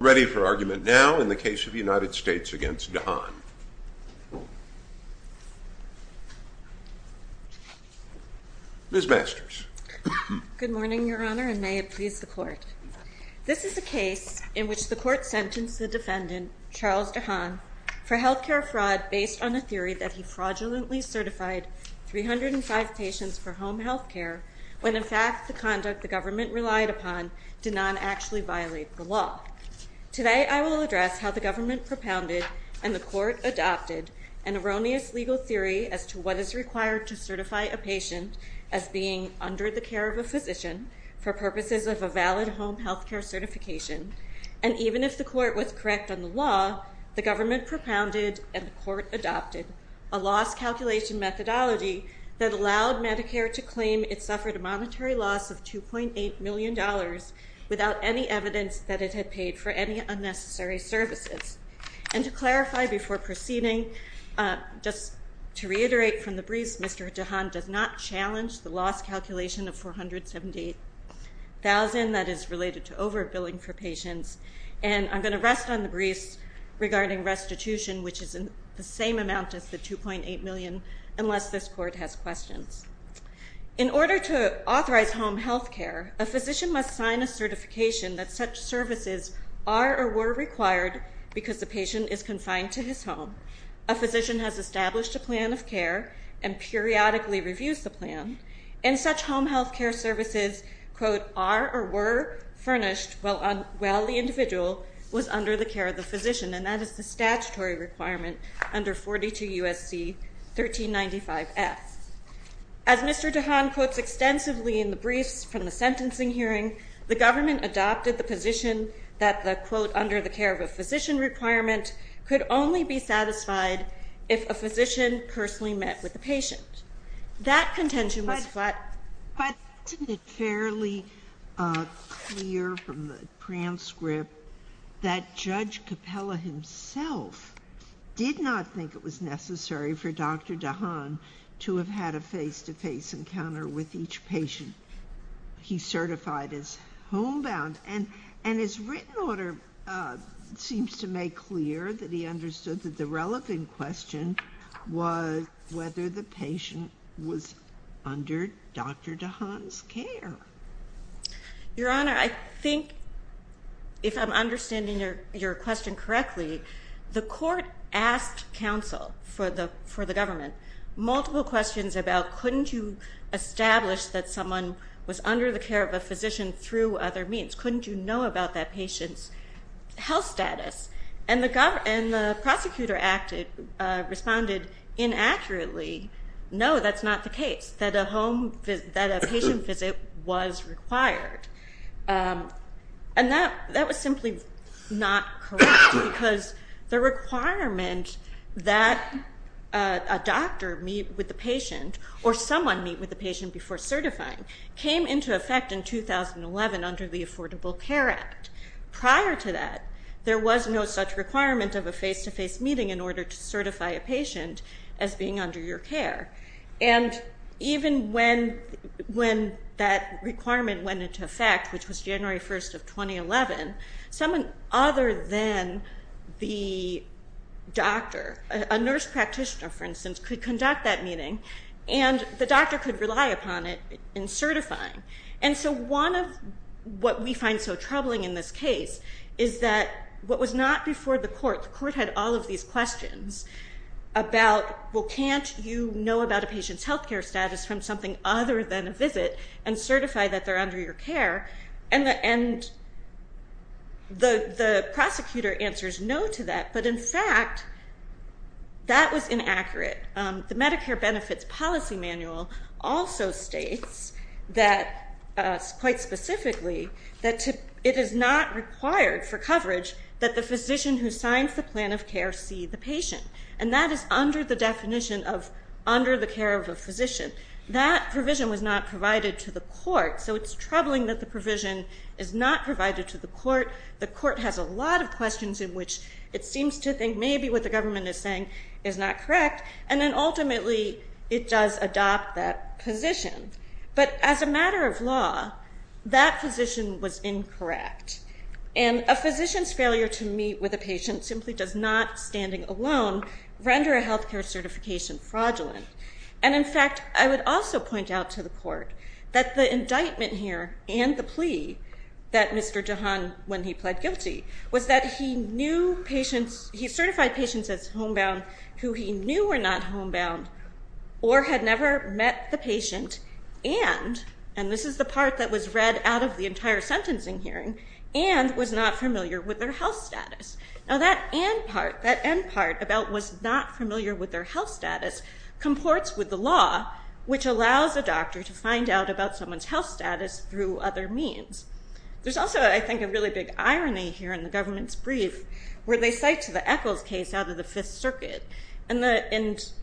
Ready for argument now in the case of United States v. DeHaan. Ms. Masters. Good morning, Your Honor, and may it please the Court. This is a case in which the Court sentenced the defendant, Charles DeHaan, for health care fraud based on a theory that he fraudulently certified 305 patients for home health care when in fact the conduct the government relied upon did not actually violate the law. Today I will address how the government propounded and the Court adopted an erroneous legal theory as to what is required to certify a patient as being under the care of a physician for purposes of a valid home health care certification. And even if the Court was correct on the law, the government propounded and the Court adopted a loss calculation methodology that allowed Medicare to claim it suffered a monetary loss of $2.8 million without any evidence that it had paid for any unnecessary services. And to clarify before proceeding, just to reiterate from the briefs, Mr. DeHaan does not challenge the loss calculation of $478,000 that is related to overbilling for patients. And I'm going to rest on the briefs regarding restitution, which is the same amount as the $2.8 million, unless this Court has questions. In order to authorize home health care, a physician must sign a certification that such services are or were required because the patient is confined to his home. A physician has established a plan of care and periodically reviews the plan, and such home health care services, quote, are or were furnished while the individual was under the care of the physician. And that is the statutory requirement under 42 U.S.C. 1395F. As Mr. DeHaan quotes extensively in the briefs from the sentencing hearing, the government adopted the position that the, quote, under the care of a physician requirement could only be satisfied if a physician personally met with the patient. That contention was flat. But isn't it fairly clear from the transcript that Judge Capella himself did not think it was necessary for Dr. DeHaan to have had a face-to-face encounter with each patient he certified as homebound? And his written order seems to make clear that he understood that the relevant question was whether the patient was under Dr. DeHaan's care. Your Honor, I think if I'm understanding your question correctly, the court asked counsel for the government multiple questions about couldn't you establish that someone was under the care of a physician through other means? Couldn't you know about that patient's health status? And the prosecutor acted, responded inaccurately, no, that's not the case, that a patient visit was required. And that was simply not correct because the requirement that a doctor meet with the patient or someone meet with the patient before certifying came into effect in 2011 under the Affordable Care Act. Prior to that, there was no such requirement of a face-to-face meeting in order to certify a patient as being under your care. And even when that requirement went into effect, which was January 1st of 2011, someone other than the doctor, a nurse practitioner for instance, could conduct that meeting and the doctor could rely upon it in certifying. And so one of what we find so troubling in this case is that what was not before the court, the court had all of these questions about, well, can't you know about a patient's health care status from something other than a visit and certify that they're under your care? And the prosecutor answers no to that, but in fact, that was inaccurate. The Medicare Benefits Policy Manual also states that, quite specifically, that it is not required for coverage that the physician who signs the plan of care see the patient. And that is under the definition of under the care of a physician. That provision was not provided to the court, so it's troubling that the provision is not provided to the court. The court has a lot of questions in which it seems to think maybe what the government is saying is not correct. And then ultimately, it does adopt that position. But as a matter of law, that physician was incorrect. And a physician's failure to meet with a patient simply does not, standing alone, render a health care certification fraudulent. And in fact, I would also point out to the court that the indictment here and the plea that Mr. Jahan, when he pled guilty, was that he knew patients, he certified patients as homebound, who he knew were not homebound or had never met the patient and, and this is the part that was read out of the entire sentencing hearing, and was not familiar with their health status. Now that and part, that end part about was not familiar with their health status, comports with the law, which allows a doctor to find out about someone's health status through other means. There's also, I think, a really big irony here in the government's brief, where they cite the Eccles case out of the Fifth Circuit. And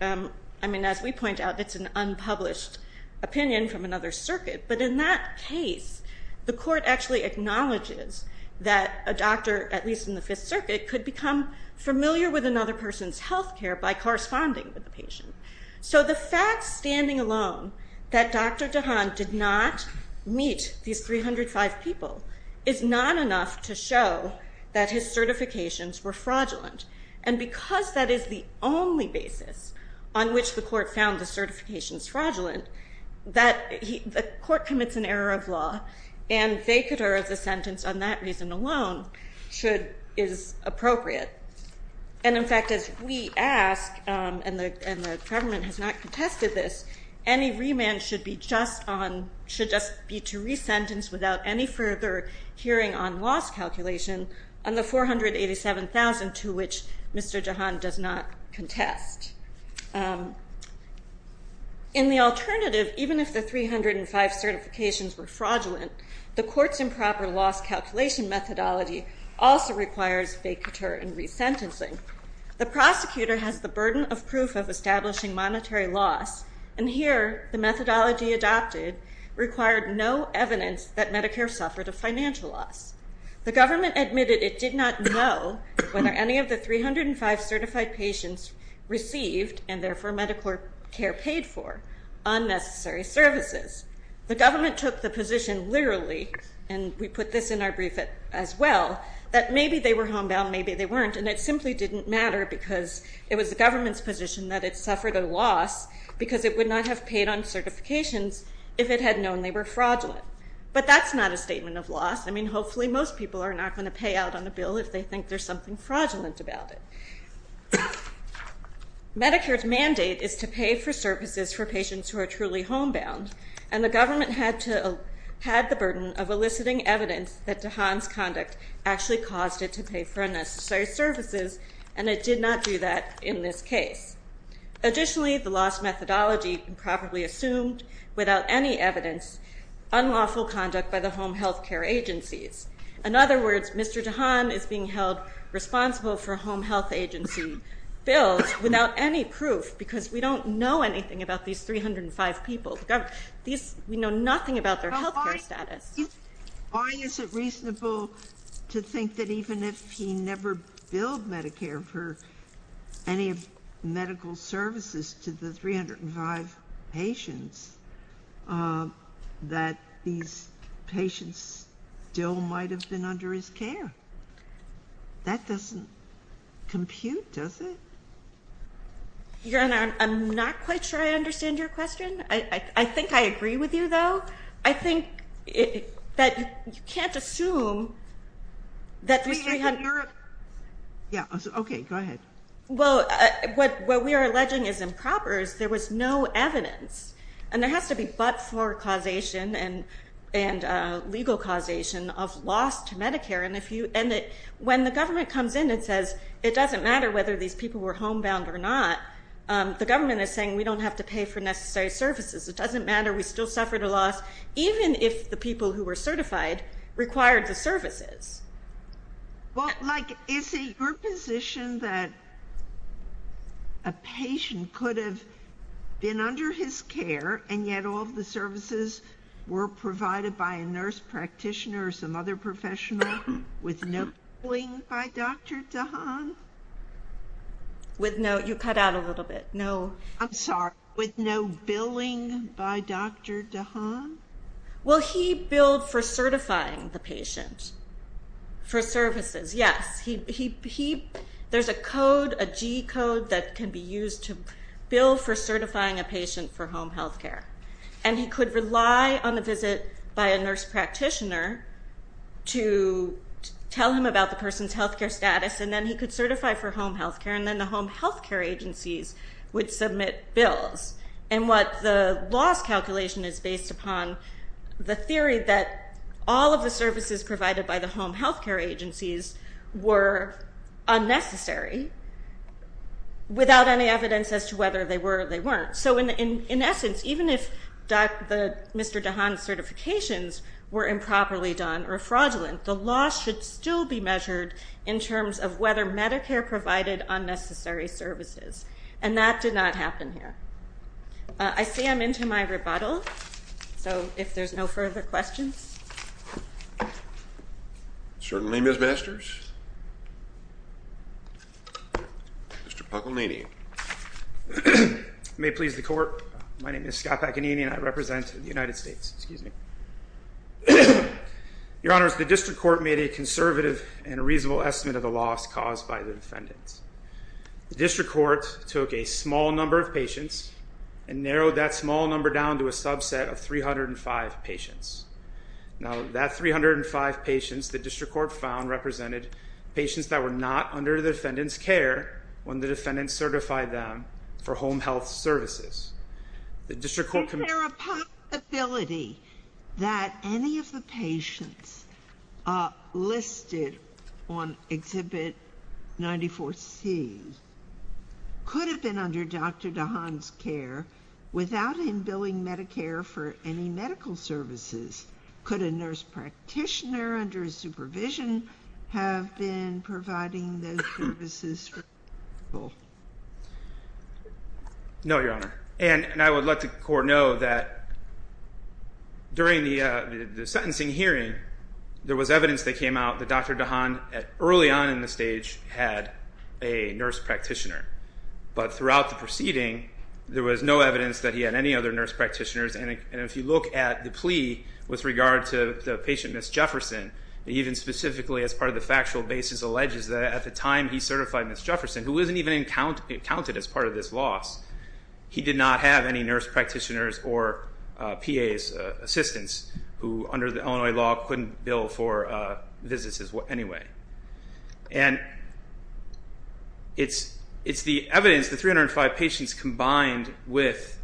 I mean, as we point out, it's an unpublished opinion from another circuit. But in that case, the court actually acknowledges that a doctor, at least in the Fifth Circuit, could become familiar with another person's health care by corresponding with the patient. So the fact, standing alone, that Dr. Jahan did not meet these 305 people, is not enough to show that his certifications were fraudulent. And because that is the only basis on which the court found the certifications fraudulent, that the court commits an error of law, and they could err as a sentence on that reason alone, should, is appropriate. And, in fact, as we ask, and the government has not contested this, any remand should just be to resentence without any further hearing on loss calculation on the $487,000 to which Mr. Jahan does not contest. In the alternative, even if the 305 certifications were fraudulent, the court's improper loss calculation methodology also requires vacatur and resentencing. The prosecutor has the burden of proof of establishing monetary loss, and here the methodology adopted required no evidence that Medicare suffered a financial loss. The government admitted it did not know whether any of the 305 certified patients received, and therefore Medicare paid for, unnecessary services. The government took the position literally, and we put this in our brief as well, that maybe they were homebound, maybe they weren't, and it simply didn't matter because it was the government's position that it suffered a loss because it would not have paid on certifications if it had known they were fraudulent. But that's not a statement of loss. I mean, hopefully most people are not going to pay out on a bill if they think there's something fraudulent about it. Medicare's mandate is to pay for services for patients who are truly homebound. And the government had the burden of eliciting evidence that DeHaan's conduct actually caused it to pay for unnecessary services, and it did not do that in this case. Additionally, the loss methodology improperly assumed without any evidence unlawful conduct by the home health care agencies. In other words, Mr. DeHaan is being held responsible for home health agency bills without any proof because we don't know anything about these 305 people. We know nothing about their health care status. Why is it reasonable to think that even if he never billed Medicare for any medical services to the 305 patients, that these patients still might have been under his care? That doesn't compute, does it? I'm not quite sure I understand your question. I think I agree with you, though. I think that you can't assume that these 300... Yeah, okay, go ahead. Well, what we are alleging is improper is there was no evidence. And there has to be but-for causation and legal causation of loss to Medicare. And when the government comes in and says, it doesn't matter whether these people were homebound or not, the government is saying we don't have to pay for necessary services. It doesn't matter. We still suffered a loss even if the people who were certified required the services. Well, like, is it your position that a patient could have been under his care and yet all of the services were provided by a nurse practitioner or some other professional with no billing by Dr. DeHaan? You cut out a little bit. I'm sorry, with no billing by Dr. DeHaan? Well, he billed for certifying the patient for services, yes. There's a code, a G code, that can be used to bill for certifying a patient for home health care. And he could rely on a visit by a nurse practitioner to tell him about the person's health care status, and then he could certify for home health care, and then the home health care agencies would submit bills. And what the loss calculation is based upon, the theory that all of the services provided by the home health care agencies were unnecessary without any evidence as to whether they were or they weren't. So in essence, even if Mr. DeHaan's certifications were improperly done or fraudulent, the loss should still be measured in terms of whether Medicare provided unnecessary services, and that did not happen here. I see I'm into my rebuttal, so if there's no further questions. Certainly, Ms. Masters. Mr. Paganini. May it please the Court, my name is Scott Paganini and I represent the United States. Excuse me. Your Honors, the District Court made a conservative and reasonable estimate of the loss caused by the defendants. The District Court took a small number of patients and narrowed that small number down to a subset of 305 patients. Now, that 305 patients, the District Court found, represented patients that were not under the defendant's care when the defendant certified them for home health services. Is there a possibility that any of the patients listed on Exhibit 94C could have been under Dr. DeHaan's care without him billing Medicare for any medical services? Could a nurse practitioner under his supervision have been providing those services for people? No, Your Honor. And I would let the Court know that during the sentencing hearing, there was evidence that came out that Dr. DeHaan, early on in the stage, had a nurse practitioner. But throughout the proceeding, there was no evidence that he had any other nurse practitioners. And if you look at the plea with regard to the patient, Ms. Jefferson, even specifically as part of the factual basis, the plaintiff alleges that at the time he certified Ms. Jefferson, who isn't even counted as part of this loss, he did not have any nurse practitioners or PAs, assistants, who under the Illinois law couldn't bill for visits anyway. And it's the evidence, the 305 patients, combined with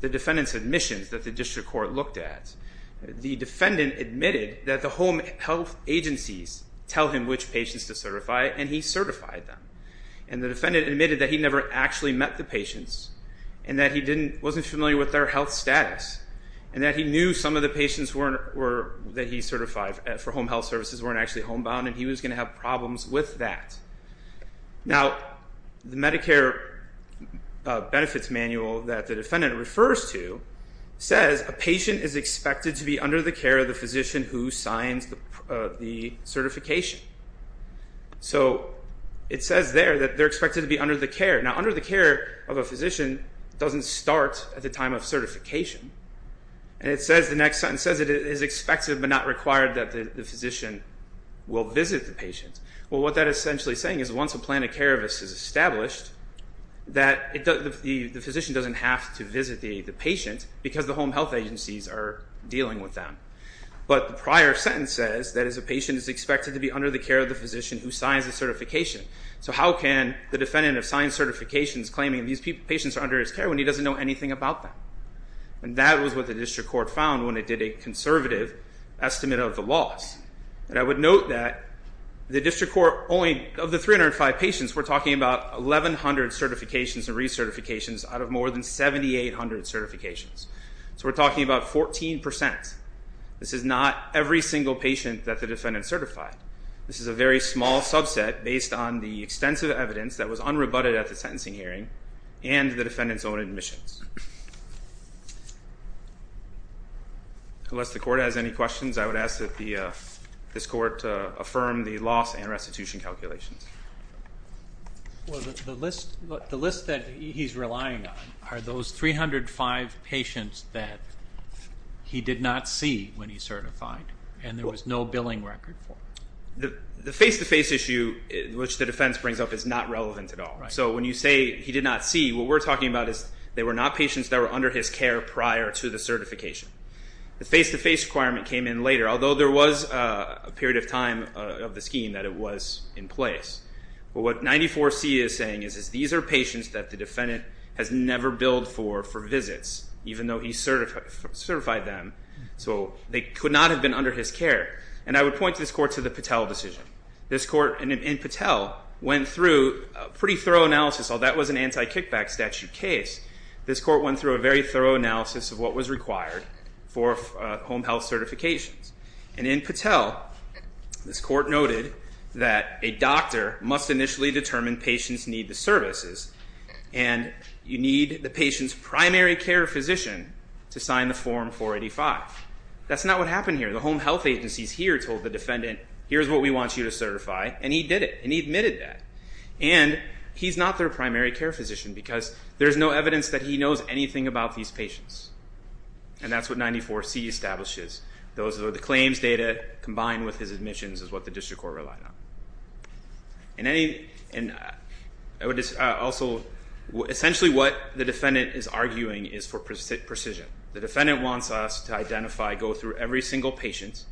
the defendant's admissions that the District Court looked at. The defendant admitted that the home health agencies tell him which patients to certify, and he certified them. And the defendant admitted that he never actually met the patients, and that he wasn't familiar with their health status, and that he knew some of the patients that he certified for home health services weren't actually homebound, and he was going to have problems with that. Now, the Medicare benefits manual that the defendant refers to says a patient is expected to be under the care of the physician who signs the certification. So it says there that they're expected to be under the care. Now, under the care of a physician doesn't start at the time of certification. And it says the next sentence, it says it is expected but not required that the physician will visit the patient. Well, what that is essentially saying is once a plan of care of this is established, that the physician doesn't have to visit the patient because the home health agencies are dealing with them. But the prior sentence says that a patient is expected to be under the care of the physician who signs the certification. So how can the defendant have signed certifications claiming these patients are under his care when he doesn't know anything about them? And that was what the District Court found when it did a conservative estimate of the loss. And I would note that the District Court only, of the 305 patients, we're talking about 1,100 certifications and recertifications out of more than 7,800 certifications. So we're talking about 14%. This is not every single patient that the defendant certified. This is a very small subset based on the extensive evidence that was unrebutted at the sentencing hearing and the defendant's own admissions. Unless the Court has any questions, I would ask that this Court affirm the loss and restitution calculations. The list that he's relying on are those 305 patients that he did not see when he certified and there was no billing record for. The face-to-face issue, which the defense brings up, is not relevant at all. So when you say he did not see, what we're talking about is they were not patients that were under his care prior to the certification. The face-to-face requirement came in later, although there was a period of time of the scheme that it was in place. But what 94C is saying is these are patients that the defendant has never billed for for visits, even though he certified them. So they could not have been under his care. And I would point this Court to the Patel decision. This Court in Patel went through a pretty thorough analysis. That was an anti-kickback statute case. This Court went through a very thorough analysis of what was required for home health certifications. And in Patel, this Court noted that a doctor must initially determine patients need the services and you need the patient's primary care physician to sign the Form 485. That's not what happened here. The home health agencies here told the defendant, here's what we want you to certify, and he did it, and he admitted that. And he's not their primary care physician because there's no evidence that he knows anything about these patients. And that's what 94C establishes. Those are the claims data combined with his admissions is what the District Court relied on. And I would also, essentially what the defendant is arguing is for precision. The defendant wants us to identify, go through every single patient,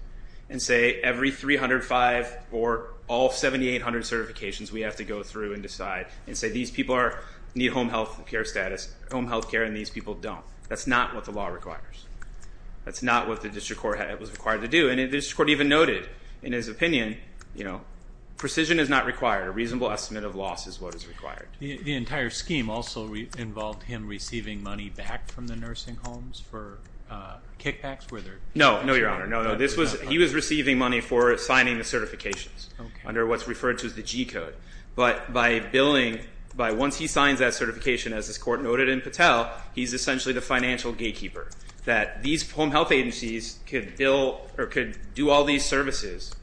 and say every 305 or all 7,800 certifications we have to go through and decide and say these people need home health care status, home health care, and these people don't. That's not what the law requires. That's not what the District Court was required to do. And the District Court even noted in his opinion, you know, precision is not required. A reasonable estimate of loss is what is required. The entire scheme also involved him receiving money back from the nursing homes for kickbacks? No, no, Your Honor. No, no. He was receiving money for signing the certifications under what's referred to as the G code. But by billing, by once he signs that certification, as this court noted in Patel, he's essentially the financial gatekeeper that these home health agencies could bill or could do all these services,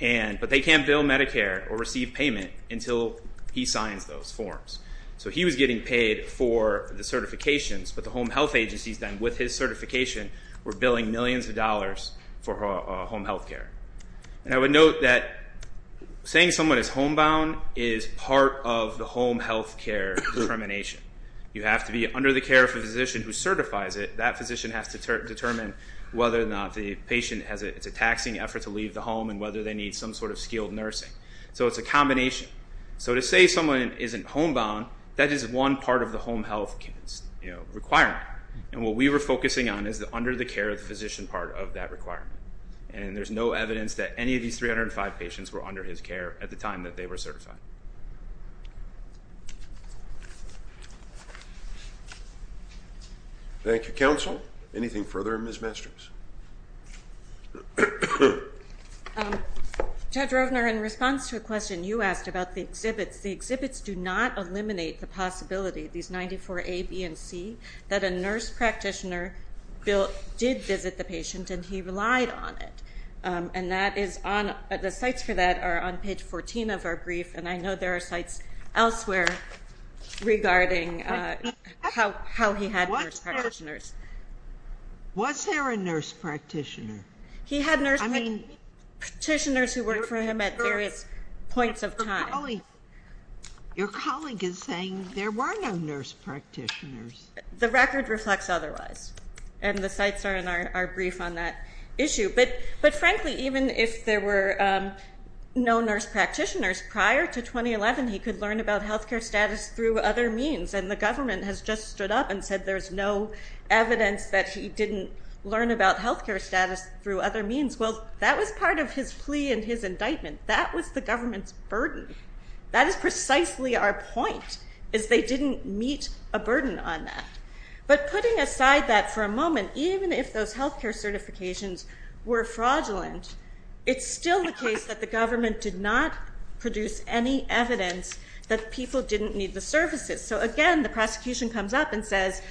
but they can't bill Medicare or receive payment until he signs those forms. So he was getting paid for the certifications, but the home health agencies then with his certification were billing millions of dollars for home health care. And I would note that saying someone is homebound is part of the home health care determination. You have to be under the care of a physician who certifies it. That physician has to determine whether or not the patient has a taxing effort to leave the home and whether they need some sort of skilled nursing. So it's a combination. So to say someone isn't homebound, that is one part of the home health requirement. And what we were focusing on is the under-the-care-of-the-physician part of that requirement. And there's no evidence that any of these 305 patients were under his care at the time that they were certified. Thank you, counsel. Anything further, Ms. Mastroms? Judge Rovner, in response to a question you asked about the exhibits, the exhibits do not eliminate the possibility, these 94A, B, and C, that a nurse practitioner did visit the patient and he relied on it. And the sites for that are on page 14 of our brief, and I know there are sites elsewhere regarding how he had nurse practitioners. Was there a nurse practitioner? He had nurse practitioners who worked for him at various points of time. Your colleague is saying there were no nurse practitioners. The record reflects otherwise, and the sites are in our brief on that issue. But, frankly, even if there were no nurse practitioners, prior to 2011, he could learn about health care status through other means, and the government has just stood up and said there's no evidence that he didn't learn about health care status through other means. Well, that was part of his plea and his indictment. That was the government's burden. That is precisely our point, is they didn't meet a burden on that. But putting aside that for a moment, even if those health care certifications were fraudulent, it's still the case that the government did not produce any evidence that people didn't need the services. So, again, the prosecution comes up and says,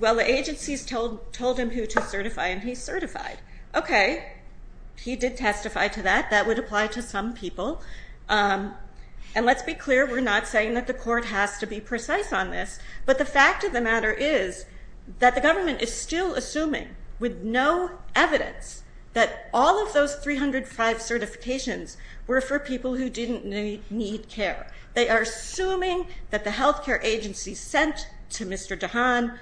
well, the agencies told him who to certify, and he certified. Okay, he did testify to that. That would apply to some people. And let's be clear, we're not saying that the court has to be precise on this, but the fact of the matter is that the government is still assuming, with no evidence, that all of those 305 certifications were for people who didn't need care. They are assuming that the health care agency sent to Mr. Dahan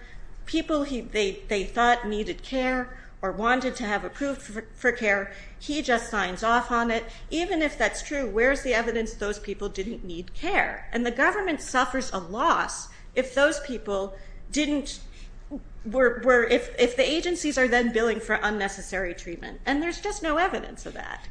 people they thought needed care or wanted to have approved for care. He just signs off on it. Even if that's true, where's the evidence those people didn't need care? And the government suffers a loss if those people didn't, if the agencies are then billing for unnecessary treatment. And there's just no evidence of that.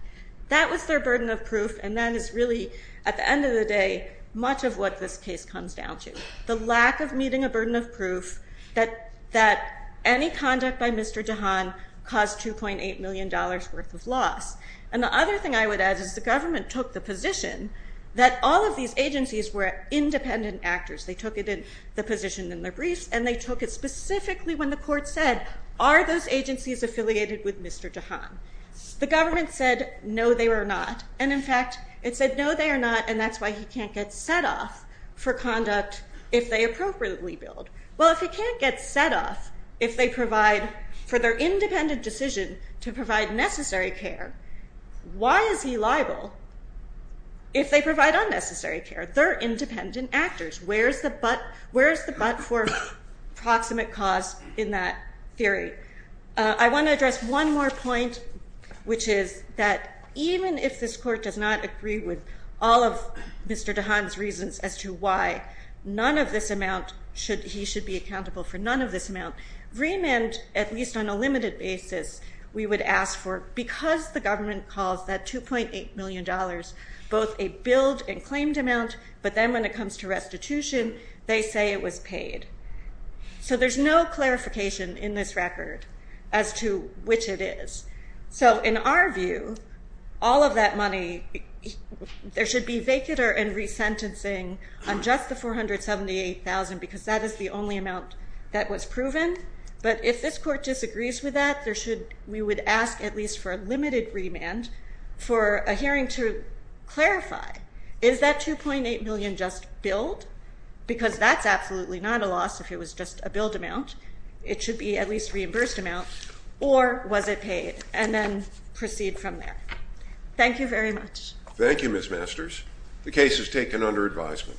That was their burden of proof, and that is really, at the end of the day, much of what this case comes down to, the lack of meeting a burden of proof that any conduct by Mr. Dahan caused $2.8 million worth of loss. And the other thing I would add is the government took the position that all of these agencies were independent actors. They took it in the position in their briefs, and they took it specifically when the court said, are those agencies affiliated with Mr. Dahan? The government said, no, they were not. And, in fact, it said, no, they are not, and that's why he can't get set off for conduct if they appropriately billed. Well, if he can't get set off if they provide for their independent decision to provide necessary care, why is he liable if they provide unnecessary care? They're independent actors. Where's the but for proximate cause in that theory? I want to address one more point, which is that even if this court does not agree with all of Mr. Dahan's reasons as to why, none of this amount, he should be accountable for none of this amount, remand, at least on a limited basis, we would ask for because the government calls that $2.8 million both a billed and claimed amount, but then when it comes to restitution, they say it was paid. So there's no clarification in this record as to which it is. So, in our view, all of that money, there should be vacater and resentencing on just the $478,000 because that is the only amount that was proven, but if this court disagrees with that, we would ask at least for a limited remand for a hearing to clarify, is that $2.8 million just billed? Because that's absolutely not a loss if it was just a billed amount. It should be at least a reimbursed amount, or was it paid? And then proceed from there. Thank you very much. Thank you, Ms. Masters. The case is taken under advisement.